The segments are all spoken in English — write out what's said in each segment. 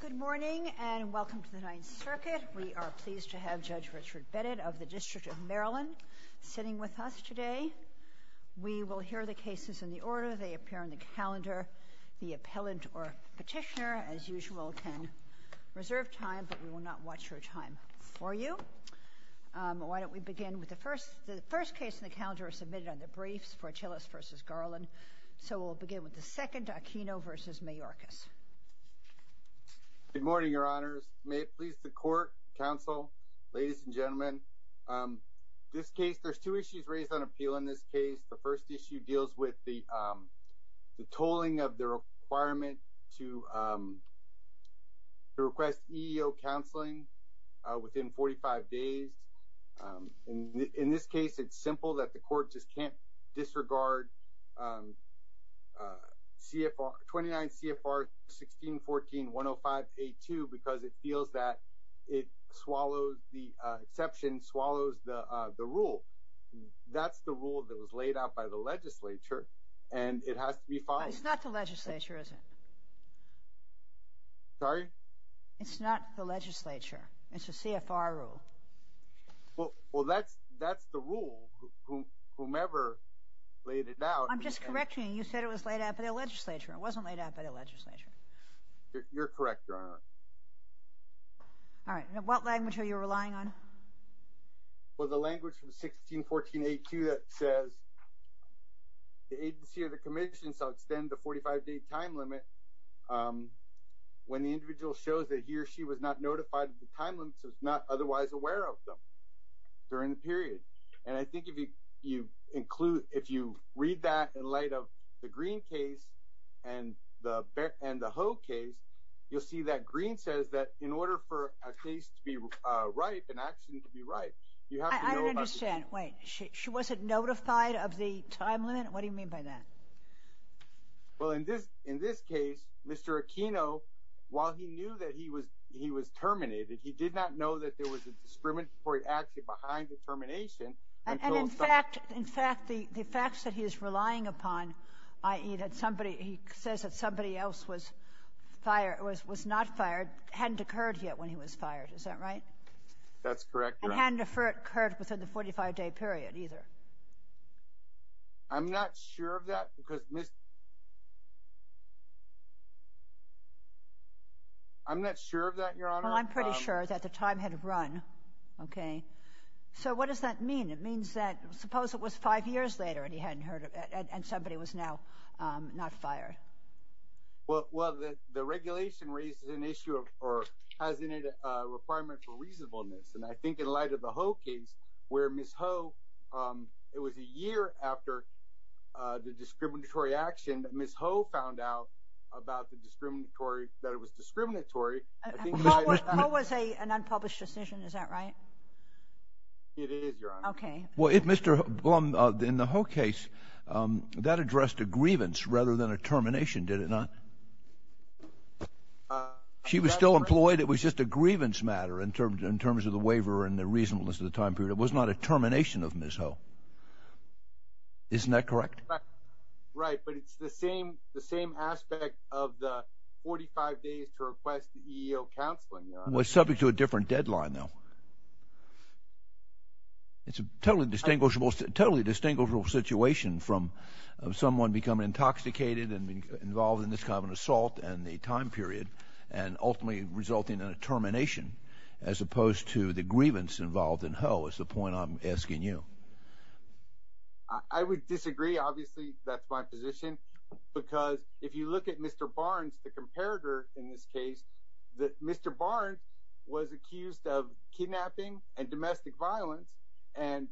Good morning and welcome to the Ninth Circuit. We are pleased to have Judge Richard Beddett of the District of Maryland sitting with us today. We will hear the cases in the order they appear on the calendar. The appellant or petitioner, as usual, can reserve time, but we will not watch your time for you. Why don't we begin with the first case in the calendar submitted on the briefs for Achilles v. Garland. So we will begin with the second, Aquino v. Mayorkas. Good morning, your honors. May it please the court, counsel, ladies and gentlemen. This case, there's two issues raised on appeal in this case. The first issue deals with the tolling of the requirement to request EEO counseling within 45 days. In this case, it's simple that the court just can't disregard 29 CFR 1614.105.82 because it feels that it swallows the exception, swallows the rule. That's the rule that was laid out by the legislature, and it has to be followed. It's not the legislature, is it? Sorry? It's not the legislature. It's a CFR rule. Well, that's the rule. Whomever laid it out— I'm just correcting you. You said it was laid out by the legislature. It wasn't laid out by the legislature. You're correct, your honor. All right. What language are you relying on? Well, the language from 1614.82 that says the agency or the commission shall extend the 45-day time limit when the individual shows that he or she was not notified of the otherwise aware of them during the period. And I think if you read that in light of the Green case and the Ho case, you'll see that Green says that in order for a case to be right, an accident to be right, you have to know about the— I don't understand. Wait. She wasn't notified of the time limit? What do you mean by that? Well, in this case, Mr. Aquino, while he knew that he was terminated, he did not know that there was a discriminatory action behind the termination until— And in fact, the facts that he is relying upon, i.e., that somebody—he says that somebody else was fired—was not fired, hadn't occurred yet when he was fired. Is that right? That's correct, your honor. And hadn't occurred within the 45-day period either. I'm not sure of that because Ms.— I'm not sure of that, your honor. Well, I'm pretty sure that the time had run, okay? So, what does that mean? It means that—suppose it was five years later and he hadn't heard of it and somebody was now not fired. Well, the regulation raises an issue of—or has in it a requirement for reasonableness. And I think in light of the Ho case, where Ms. Ho—it was a year after the discriminatory action that Ms. Ho found out about the discriminatory—that it was discriminatory. Ho was an unpublished decision, is that right? It is, your honor. Okay. Well, in the Ho case, that addressed a grievance rather than a termination, did it not? She was still employed. It was just a grievance matter in terms of the waiver and the reasonableness of the time period. It was not a termination of Ms. Ho. Isn't that correct? Right, but it's the same aspect of the 45 days to request the EEO counseling. Well, it's subject to a different deadline, though. It's a totally distinguishable situation from someone becoming intoxicated and involved in this kind of an assault and the time period and ultimately resulting in a termination as opposed to the grievance involved in Ho is the point I'm asking you. I would disagree. Obviously, that's my position because if you look at Mr. Barnes, the comparator in this case, that Mr. Barnes was accused of kidnapping and domestic violence and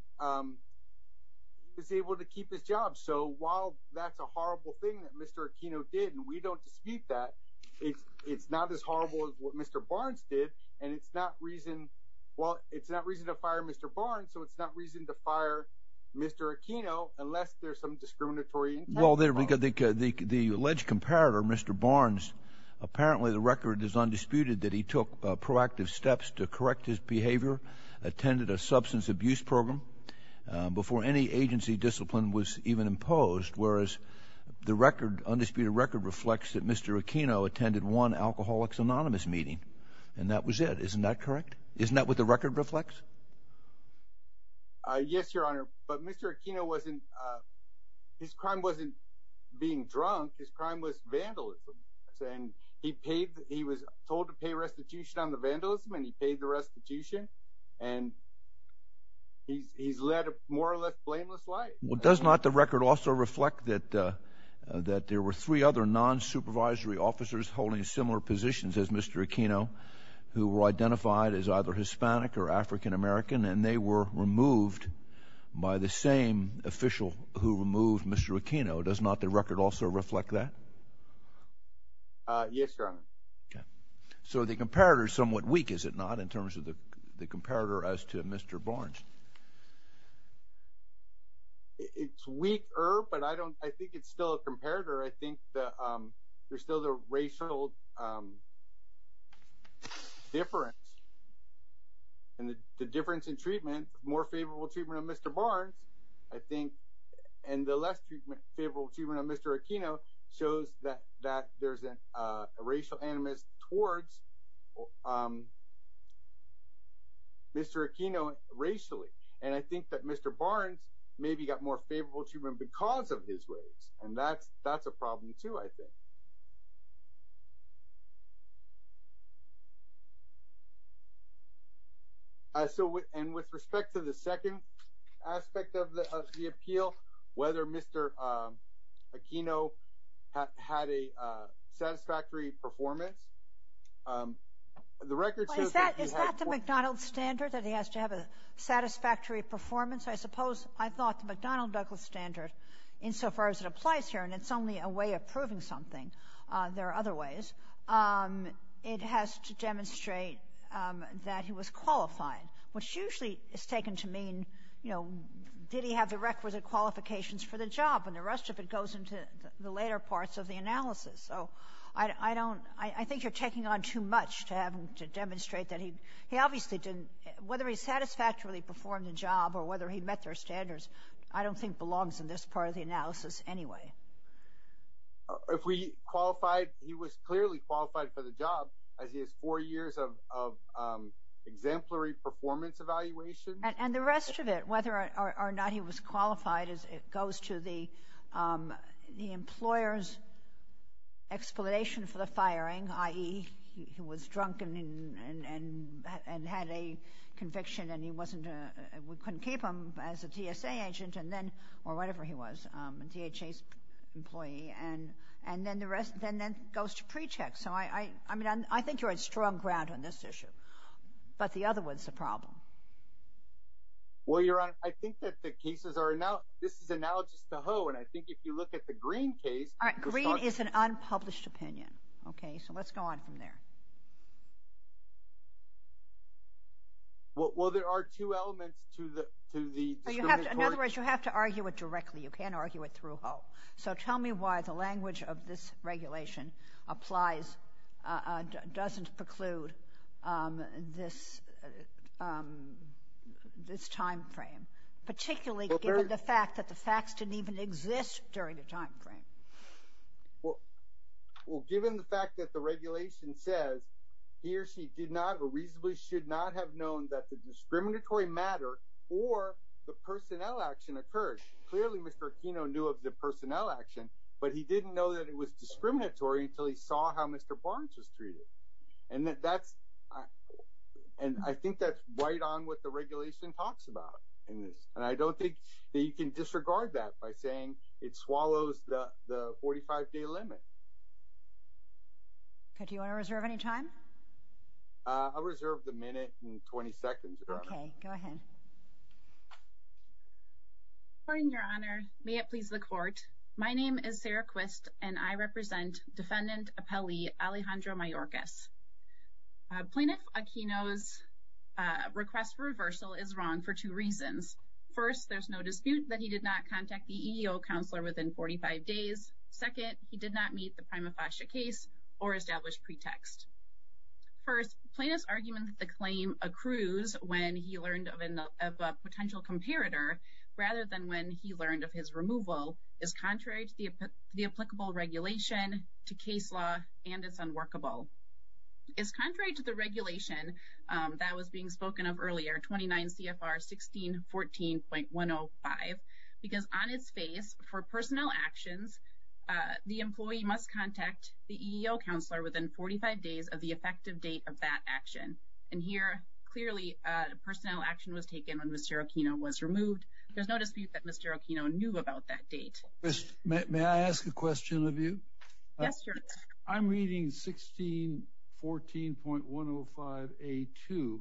was able to keep his job. So while that's a horrible thing that Mr. Aquino did and we don't dispute that, it's not as horrible as what Mr. Barnes did and it's not reason—well, it's not reason to fire Mr. Aquino unless there's some discriminatory intent involved. Well, the alleged comparator, Mr. Barnes, apparently the record is undisputed that he took proactive steps to correct his behavior, attended a substance abuse program before any agency discipline was even imposed, whereas the undisputed record reflects that Mr. Aquino attended one Alcoholics Anonymous meeting and that was it. Isn't that correct? Isn't that what the record reflects? Yes, Your Honor, but Mr. Aquino wasn't—his crime wasn't being drunk. His crime was vandalism and he paid—he was told to pay restitution on the vandalism and he paid the restitution and he's led a more or less blameless life. Well, does not the record also reflect that there were three other non-supervisory officers holding similar positions as Mr. Aquino who were identified as either Hispanic or African-American and they were removed by the same official who removed Mr. Aquino? Does not the record also reflect that? Yes, Your Honor. Okay. So the comparator is somewhat weak, is it not, in terms of the comparator as to Mr. Barnes? It's weaker, but I don't—I think it's still a comparator. I think there's still the racial difference and the difference in treatment, more favorable treatment of Mr. Barnes, I think, and the less favorable treatment of Mr. Aquino shows that there's a racial animus towards Mr. Aquino racially. And I think that Mr. Barnes maybe got more favorable treatment because of his race and that's a problem, too, I think. And with respect to the second aspect of the appeal, whether Mr. Aquino had a satisfactory performance, the record shows that he had— Is that the McDonald's standard, that he has to have a satisfactory performance? I suppose I thought the McDonald's standard, insofar as it applies here, and it's only a way of proving something, there are other ways, it has to demonstrate that he was qualified, which usually is taken to mean, you know, did he have the requisite qualifications for the job? And the rest of it goes into the later parts of the analysis. So I don't—I think you're taking on too much to demonstrate that he—he obviously didn't— he met their standards. I don't think belongs in this part of the analysis anyway. If we qualified, he was clearly qualified for the job as he has four years of exemplary performance evaluation. And the rest of it, whether or not he was qualified, it goes to the employer's explanation for the firing, i.e., he was drunk and had a conviction and he wasn't—we couldn't keep him as a TSA agent and then—or whatever he was, a DHA employee, and then the rest—then that goes to pre-check. So I—I mean, I think you're on strong ground on this issue. But the other one's the problem. Well, Your Honor, I think that the cases are—this is analogous to Ho, and I think if you look at the Green case— All right, Green is an unpublished opinion, okay? So let's go on from there. Well, there are two elements to the discriminatory— In other words, you have to argue it directly. You can't argue it through Ho. So tell me why the language of this regulation applies—doesn't preclude this timeframe, particularly given the fact that the facts didn't even exist during the timeframe. Well, given the fact that the regulation says he or she did not or reasonably should not have known that the discriminatory matter or the personnel action occurred, clearly Mr. Aquino knew of the personnel action, but he didn't know that it was discriminatory until he saw how Mr. Barnes was treated. And that's—and I think that's right on what the regulation talks about in this. And I don't think that you can disregard that by saying it swallows the 45-day limit. Okay, do you want to reserve any time? I'll reserve the minute and 20 seconds, Your Honor. Okay, go ahead. Good morning, Your Honor. May it please the Court. My name is Sarah Quist, and I represent Defendant Appellee Alejandro Mayorkas. Plaintiff Aquino's request for reversal is wrong for two reasons. First, there's no dispute that he did not contact the EEO counselor within 45 days. Second, he did not meet the prima facie case or establish pretext. First, plaintiff's argument that the claim accrues when he learned of a potential comparator rather than when he learned of his removal is contrary to the applicable regulation, to case law, and it's unworkable. It's contrary to the regulation that was being spoken of earlier, 29 CFR 1614.105, because on its face, for personnel actions, the employee must contact the EEO counselor within 45 days of the effective date of that action. And here, clearly, personnel action was taken when Mr. Aquino was removed. There's no dispute that Mr. Aquino knew about that date. May I ask a question of you? Yes, sir. I'm reading 1614.105A2,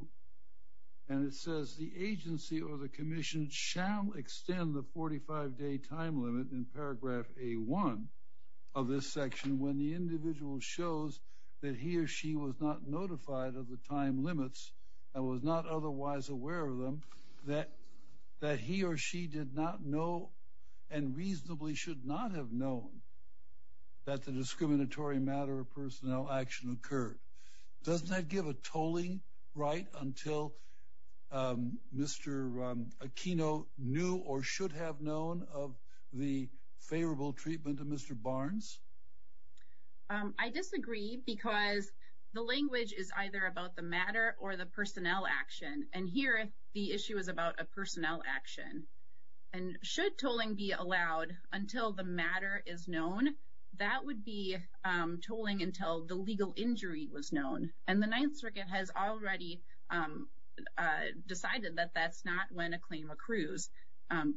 and it says, the agency or the commission shall extend the 45-day time limit in paragraph A1 of this section when the individual shows that he or she was not notified of the time limits and was not otherwise aware of them, that he or she did not know and reasonably should not have known that the discriminatory matter of personnel action occurred. Doesn't that give a tolling right until Mr. Aquino knew or should have known of the favorable treatment of Mr. Barnes? I disagree because the language is either about the matter or the personnel action. And here, the issue is about a personnel action. And should tolling be allowed until the matter is known, that would be tolling until the legal injury was known. And the Ninth Circuit has already decided that that's not when a claim accrues,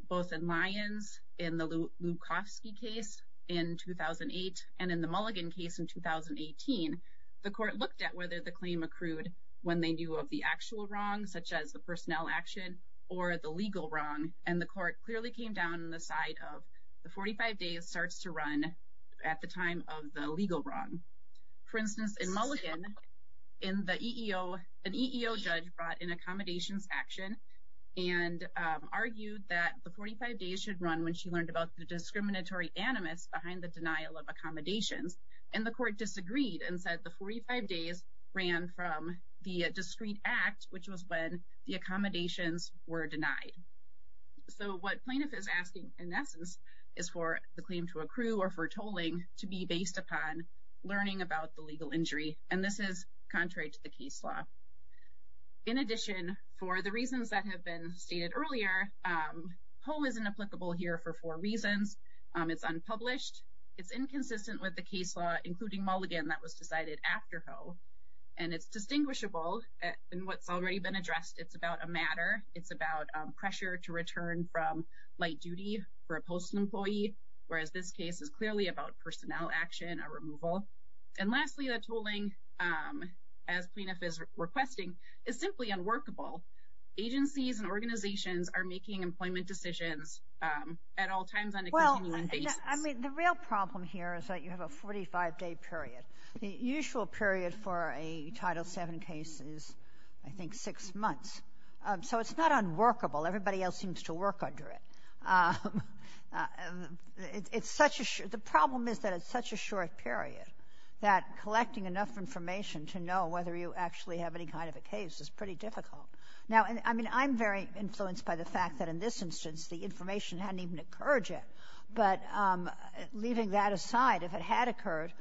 both in Lyons in the Lukowski case in 2008 and in the Mulligan case in 2018. The court looked at whether the claim accrued when they knew of the actual wrong, such as the personnel action or the legal wrong, and the court clearly came down on the side of the 45 days starts to run at the time of the legal wrong. For instance, in Mulligan, an EEO judge brought an accommodations action and argued that the 45 days should run when she learned about the discriminatory animus behind the denial of accommodations. And the court disagreed and said the 45 days ran from the discrete act, which was when the accommodations were denied. So what plaintiff is asking, in essence, is for the claim to accrue or for tolling to be based upon learning about the legal injury. And this is contrary to the case law. In addition, for the reasons that have been stated earlier, HOE isn't applicable here for four reasons. It's unpublished. It's inconsistent with the case law, including Mulligan, that was decided after HOE. And it's distinguishable in what's already been addressed. It's about a matter. It's about pressure to return from light duty for a postal employee, whereas this case is clearly about personnel action or removal. And lastly, the tolling, as plaintiff is requesting, is simply unworkable. Agencies and organizations are making employment decisions at all times on a continuing basis. Well, I mean, the real problem here is that you have a 45-day period. The usual period for a Title VII case is, I think, six months. So it's not unworkable. Everybody else seems to work under it. The problem is that it's such a short period that collecting enough information to know whether you actually have any kind of a case is pretty difficult. Now, I mean, I'm very influenced by the fact that, in this instance, the information hadn't even occurred yet. But leaving that aside, if it had occurred,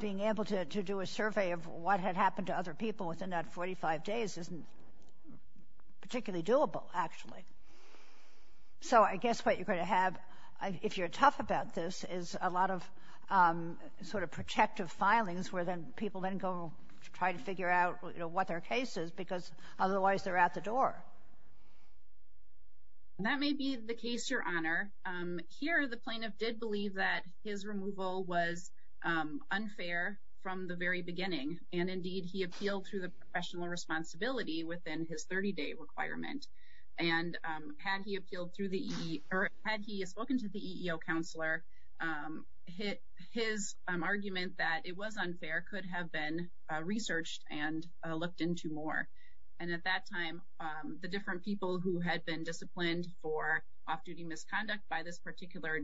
being able to do a survey of what had happened to other people within that 45 days isn't particularly doable, actually. So I guess what you're going to have, if you're tough about this, is a lot of sort of protective filings where people then go try to figure out what their case is because otherwise they're out the door. That may be the case, Your Honor. Here, the plaintiff did believe that his removal was unfair from the very beginning. And indeed, he appealed to the professional responsibility within his 30-day requirement. And had he appealed through the EEO, or had he spoken to the EEO counselor, his argument that it was unfair could have been researched and looked into more. And at that time, the different people who had been disciplined for off-duty misconduct by this particular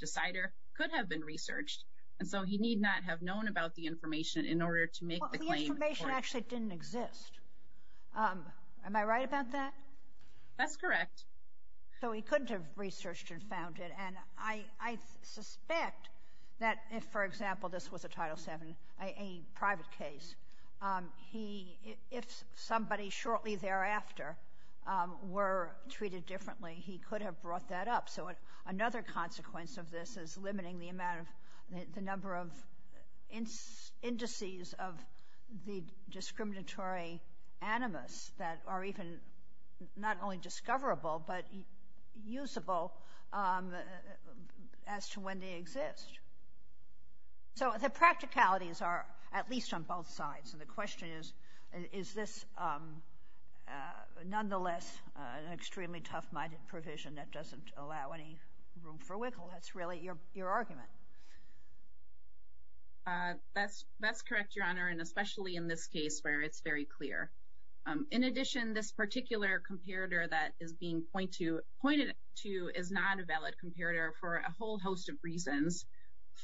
decider could have been researched. And so he need not have known about the information in order to make the claim. The information actually didn't exist. Am I right about that? That's correct. So he couldn't have researched and found it. And I suspect that if, for example, this was a Title VII, a private case, if somebody shortly thereafter were treated differently, he could have brought that up. So another consequence of this is limiting the number of indices of the discriminatory animus that are even not only discoverable but usable as to when they exist. So the practicalities are at least on both sides. And the question is, is this nonetheless an extremely tough-minded provision that doesn't allow any room for wiggle? That's really your argument. That's correct, Your Honor, and especially in this case where it's very clear. In addition, this particular comparator that is being pointed to is not a valid comparator for a whole host of reasons.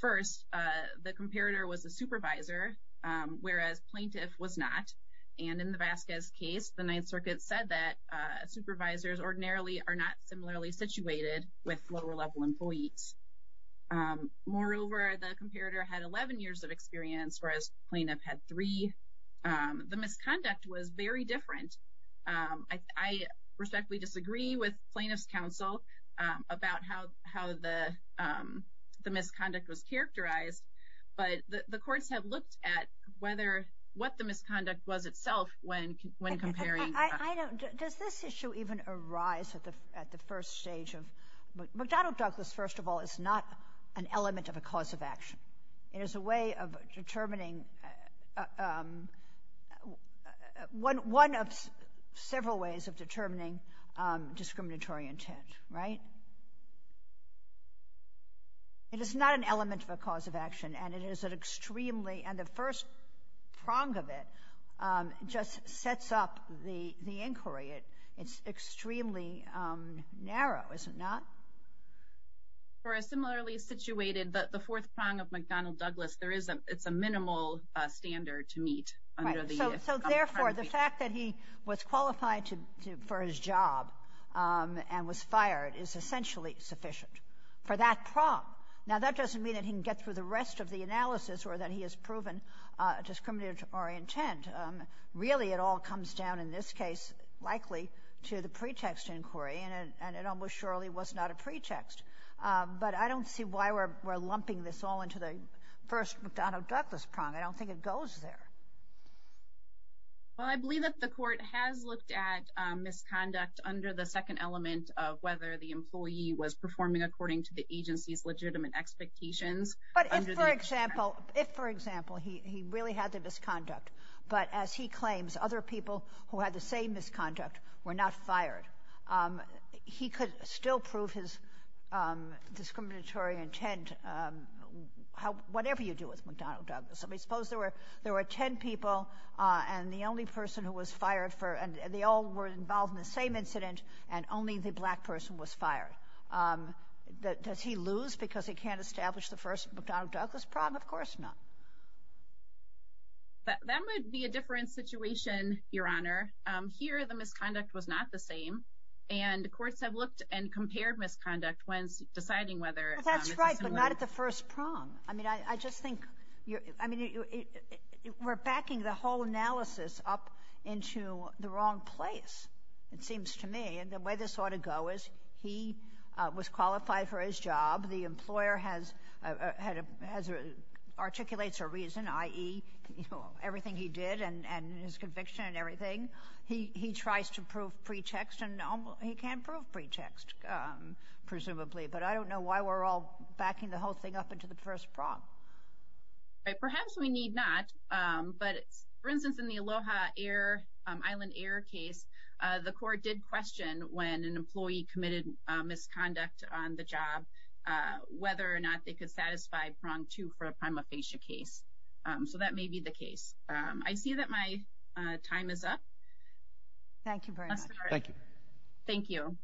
First, the comparator was a supervisor, whereas plaintiff was not. And in the Vasquez case, the Ninth Circuit said that supervisors ordinarily are not similarly situated with lower-level employees. Moreover, the comparator had 11 years of experience, whereas plaintiff had three. The misconduct was very different. I respectfully disagree with plaintiff's counsel about how the misconduct was characterized, but the courts have looked at what the misconduct was itself when comparing. Does this issue even arise at the first stage? McDonnell Douglas, first of all, is not an element of a cause of action. It is a way of determining, one of several ways of determining discriminatory intent. Right? It is not an element of a cause of action, and it is an extremely, and the first prong of it just sets up the inquiry. It's extremely narrow, is it not? For a similarly situated, the fourth prong of McDonnell Douglas, it's a minimal standard to meet. Right, so therefore, the fact that he was qualified for his job and was fired is essentially sufficient for that prong. Now, that doesn't mean that he can get through the rest of the analysis or that he has proven discriminatory intent. Really, it all comes down, in this case, likely to the pretext inquiry, and it almost surely was not a pretext. But I don't see why we're lumping this all into the first McDonnell Douglas prong. I don't think it goes there. Well, I believe that the court has looked at misconduct under the second element of whether the employee was performing according to the agency's legitimate expectations. But if, for example, he really had the misconduct, but as he claims, other people who had the same misconduct were not fired, he could still prove his discriminatory intent, whatever you do with McDonnell Douglas. Suppose there were ten people, and the only person who was fired, and they all were involved in the same incident, and only the black person was fired. Does he lose because he can't establish the first McDonnell Douglas prong? Of course not. That might be a different situation, Your Honor. Here, the misconduct was not the same, and courts have looked and compared misconduct when deciding whether it's the same way. That's right, but not at the first prong. I mean, we're backing the whole analysis up into the wrong place, it seems to me. And the way this ought to go is he was qualified for his job. The employer articulates a reason, i.e., everything he did and his conviction and everything. He tries to prove pretext, and he can't prove pretext, presumably. But I don't know why we're all backing the whole thing up into the first prong. Perhaps we need not, but, for instance, in the Aloha Island Air case, the court did question, when an employee committed misconduct on the job, whether or not they could satisfy prong two for a prima facie case. So that may be the case. I see that my time is up. Thank you very much. Thank you. Thank you.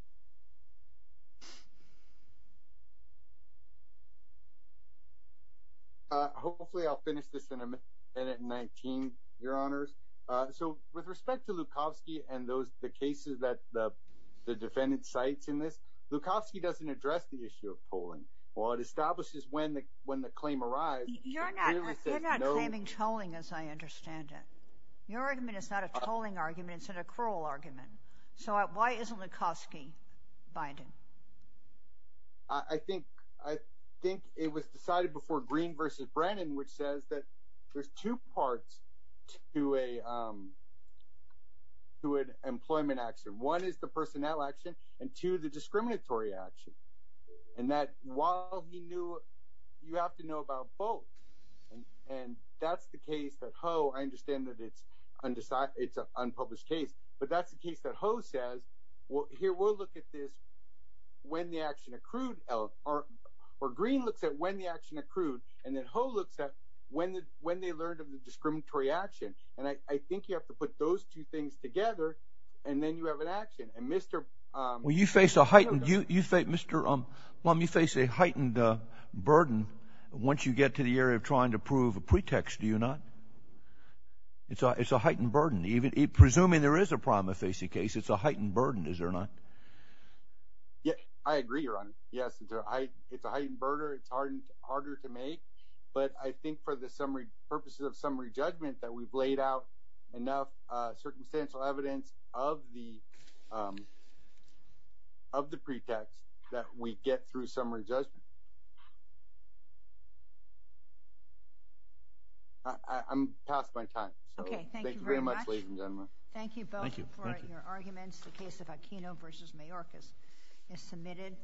Hopefully I'll finish this in a minute and 19, Your Honors. So with respect to Lukosky and the cases that the defendant cites in this, Lukosky doesn't address the issue of tolling. Well, it establishes when the claim arrives. You're not claiming tolling, as I understand it. Your argument is not a tolling argument. It's an accrual argument. So why isn't Lukosky binding? I think it was decided before Green versus Brennan, which says that there's two parts to an employment action. One is the personnel action, and two, the discriminatory action. And that while he knew, you have to know about both. And that's the case that Ho, I understand that it's an unpublished case. But that's the case that Ho says, here, we'll look at this when the action accrued. Or Green looks at when the action accrued, and then Ho looks at when they learned of the discriminatory action. And I think you have to put those two things together, and then you have an action. Well, you face a heightened burden once you get to the area of trying to prove a pretext, do you not? It's a heightened burden. Presuming there is a prima facie case, it's a heightened burden, is there not? I agree, Your Honor. Yes, it's a heightened burden. It's harder to make. But I think for the purposes of summary judgment, that we've laid out enough circumstantial evidence of the pretext that we get through summary judgment. I'm past my time. Okay, thank you very much. Thank you very much, ladies and gentlemen. Thank you both for your arguments. The case of Aquino v. Mayorkas is submitted.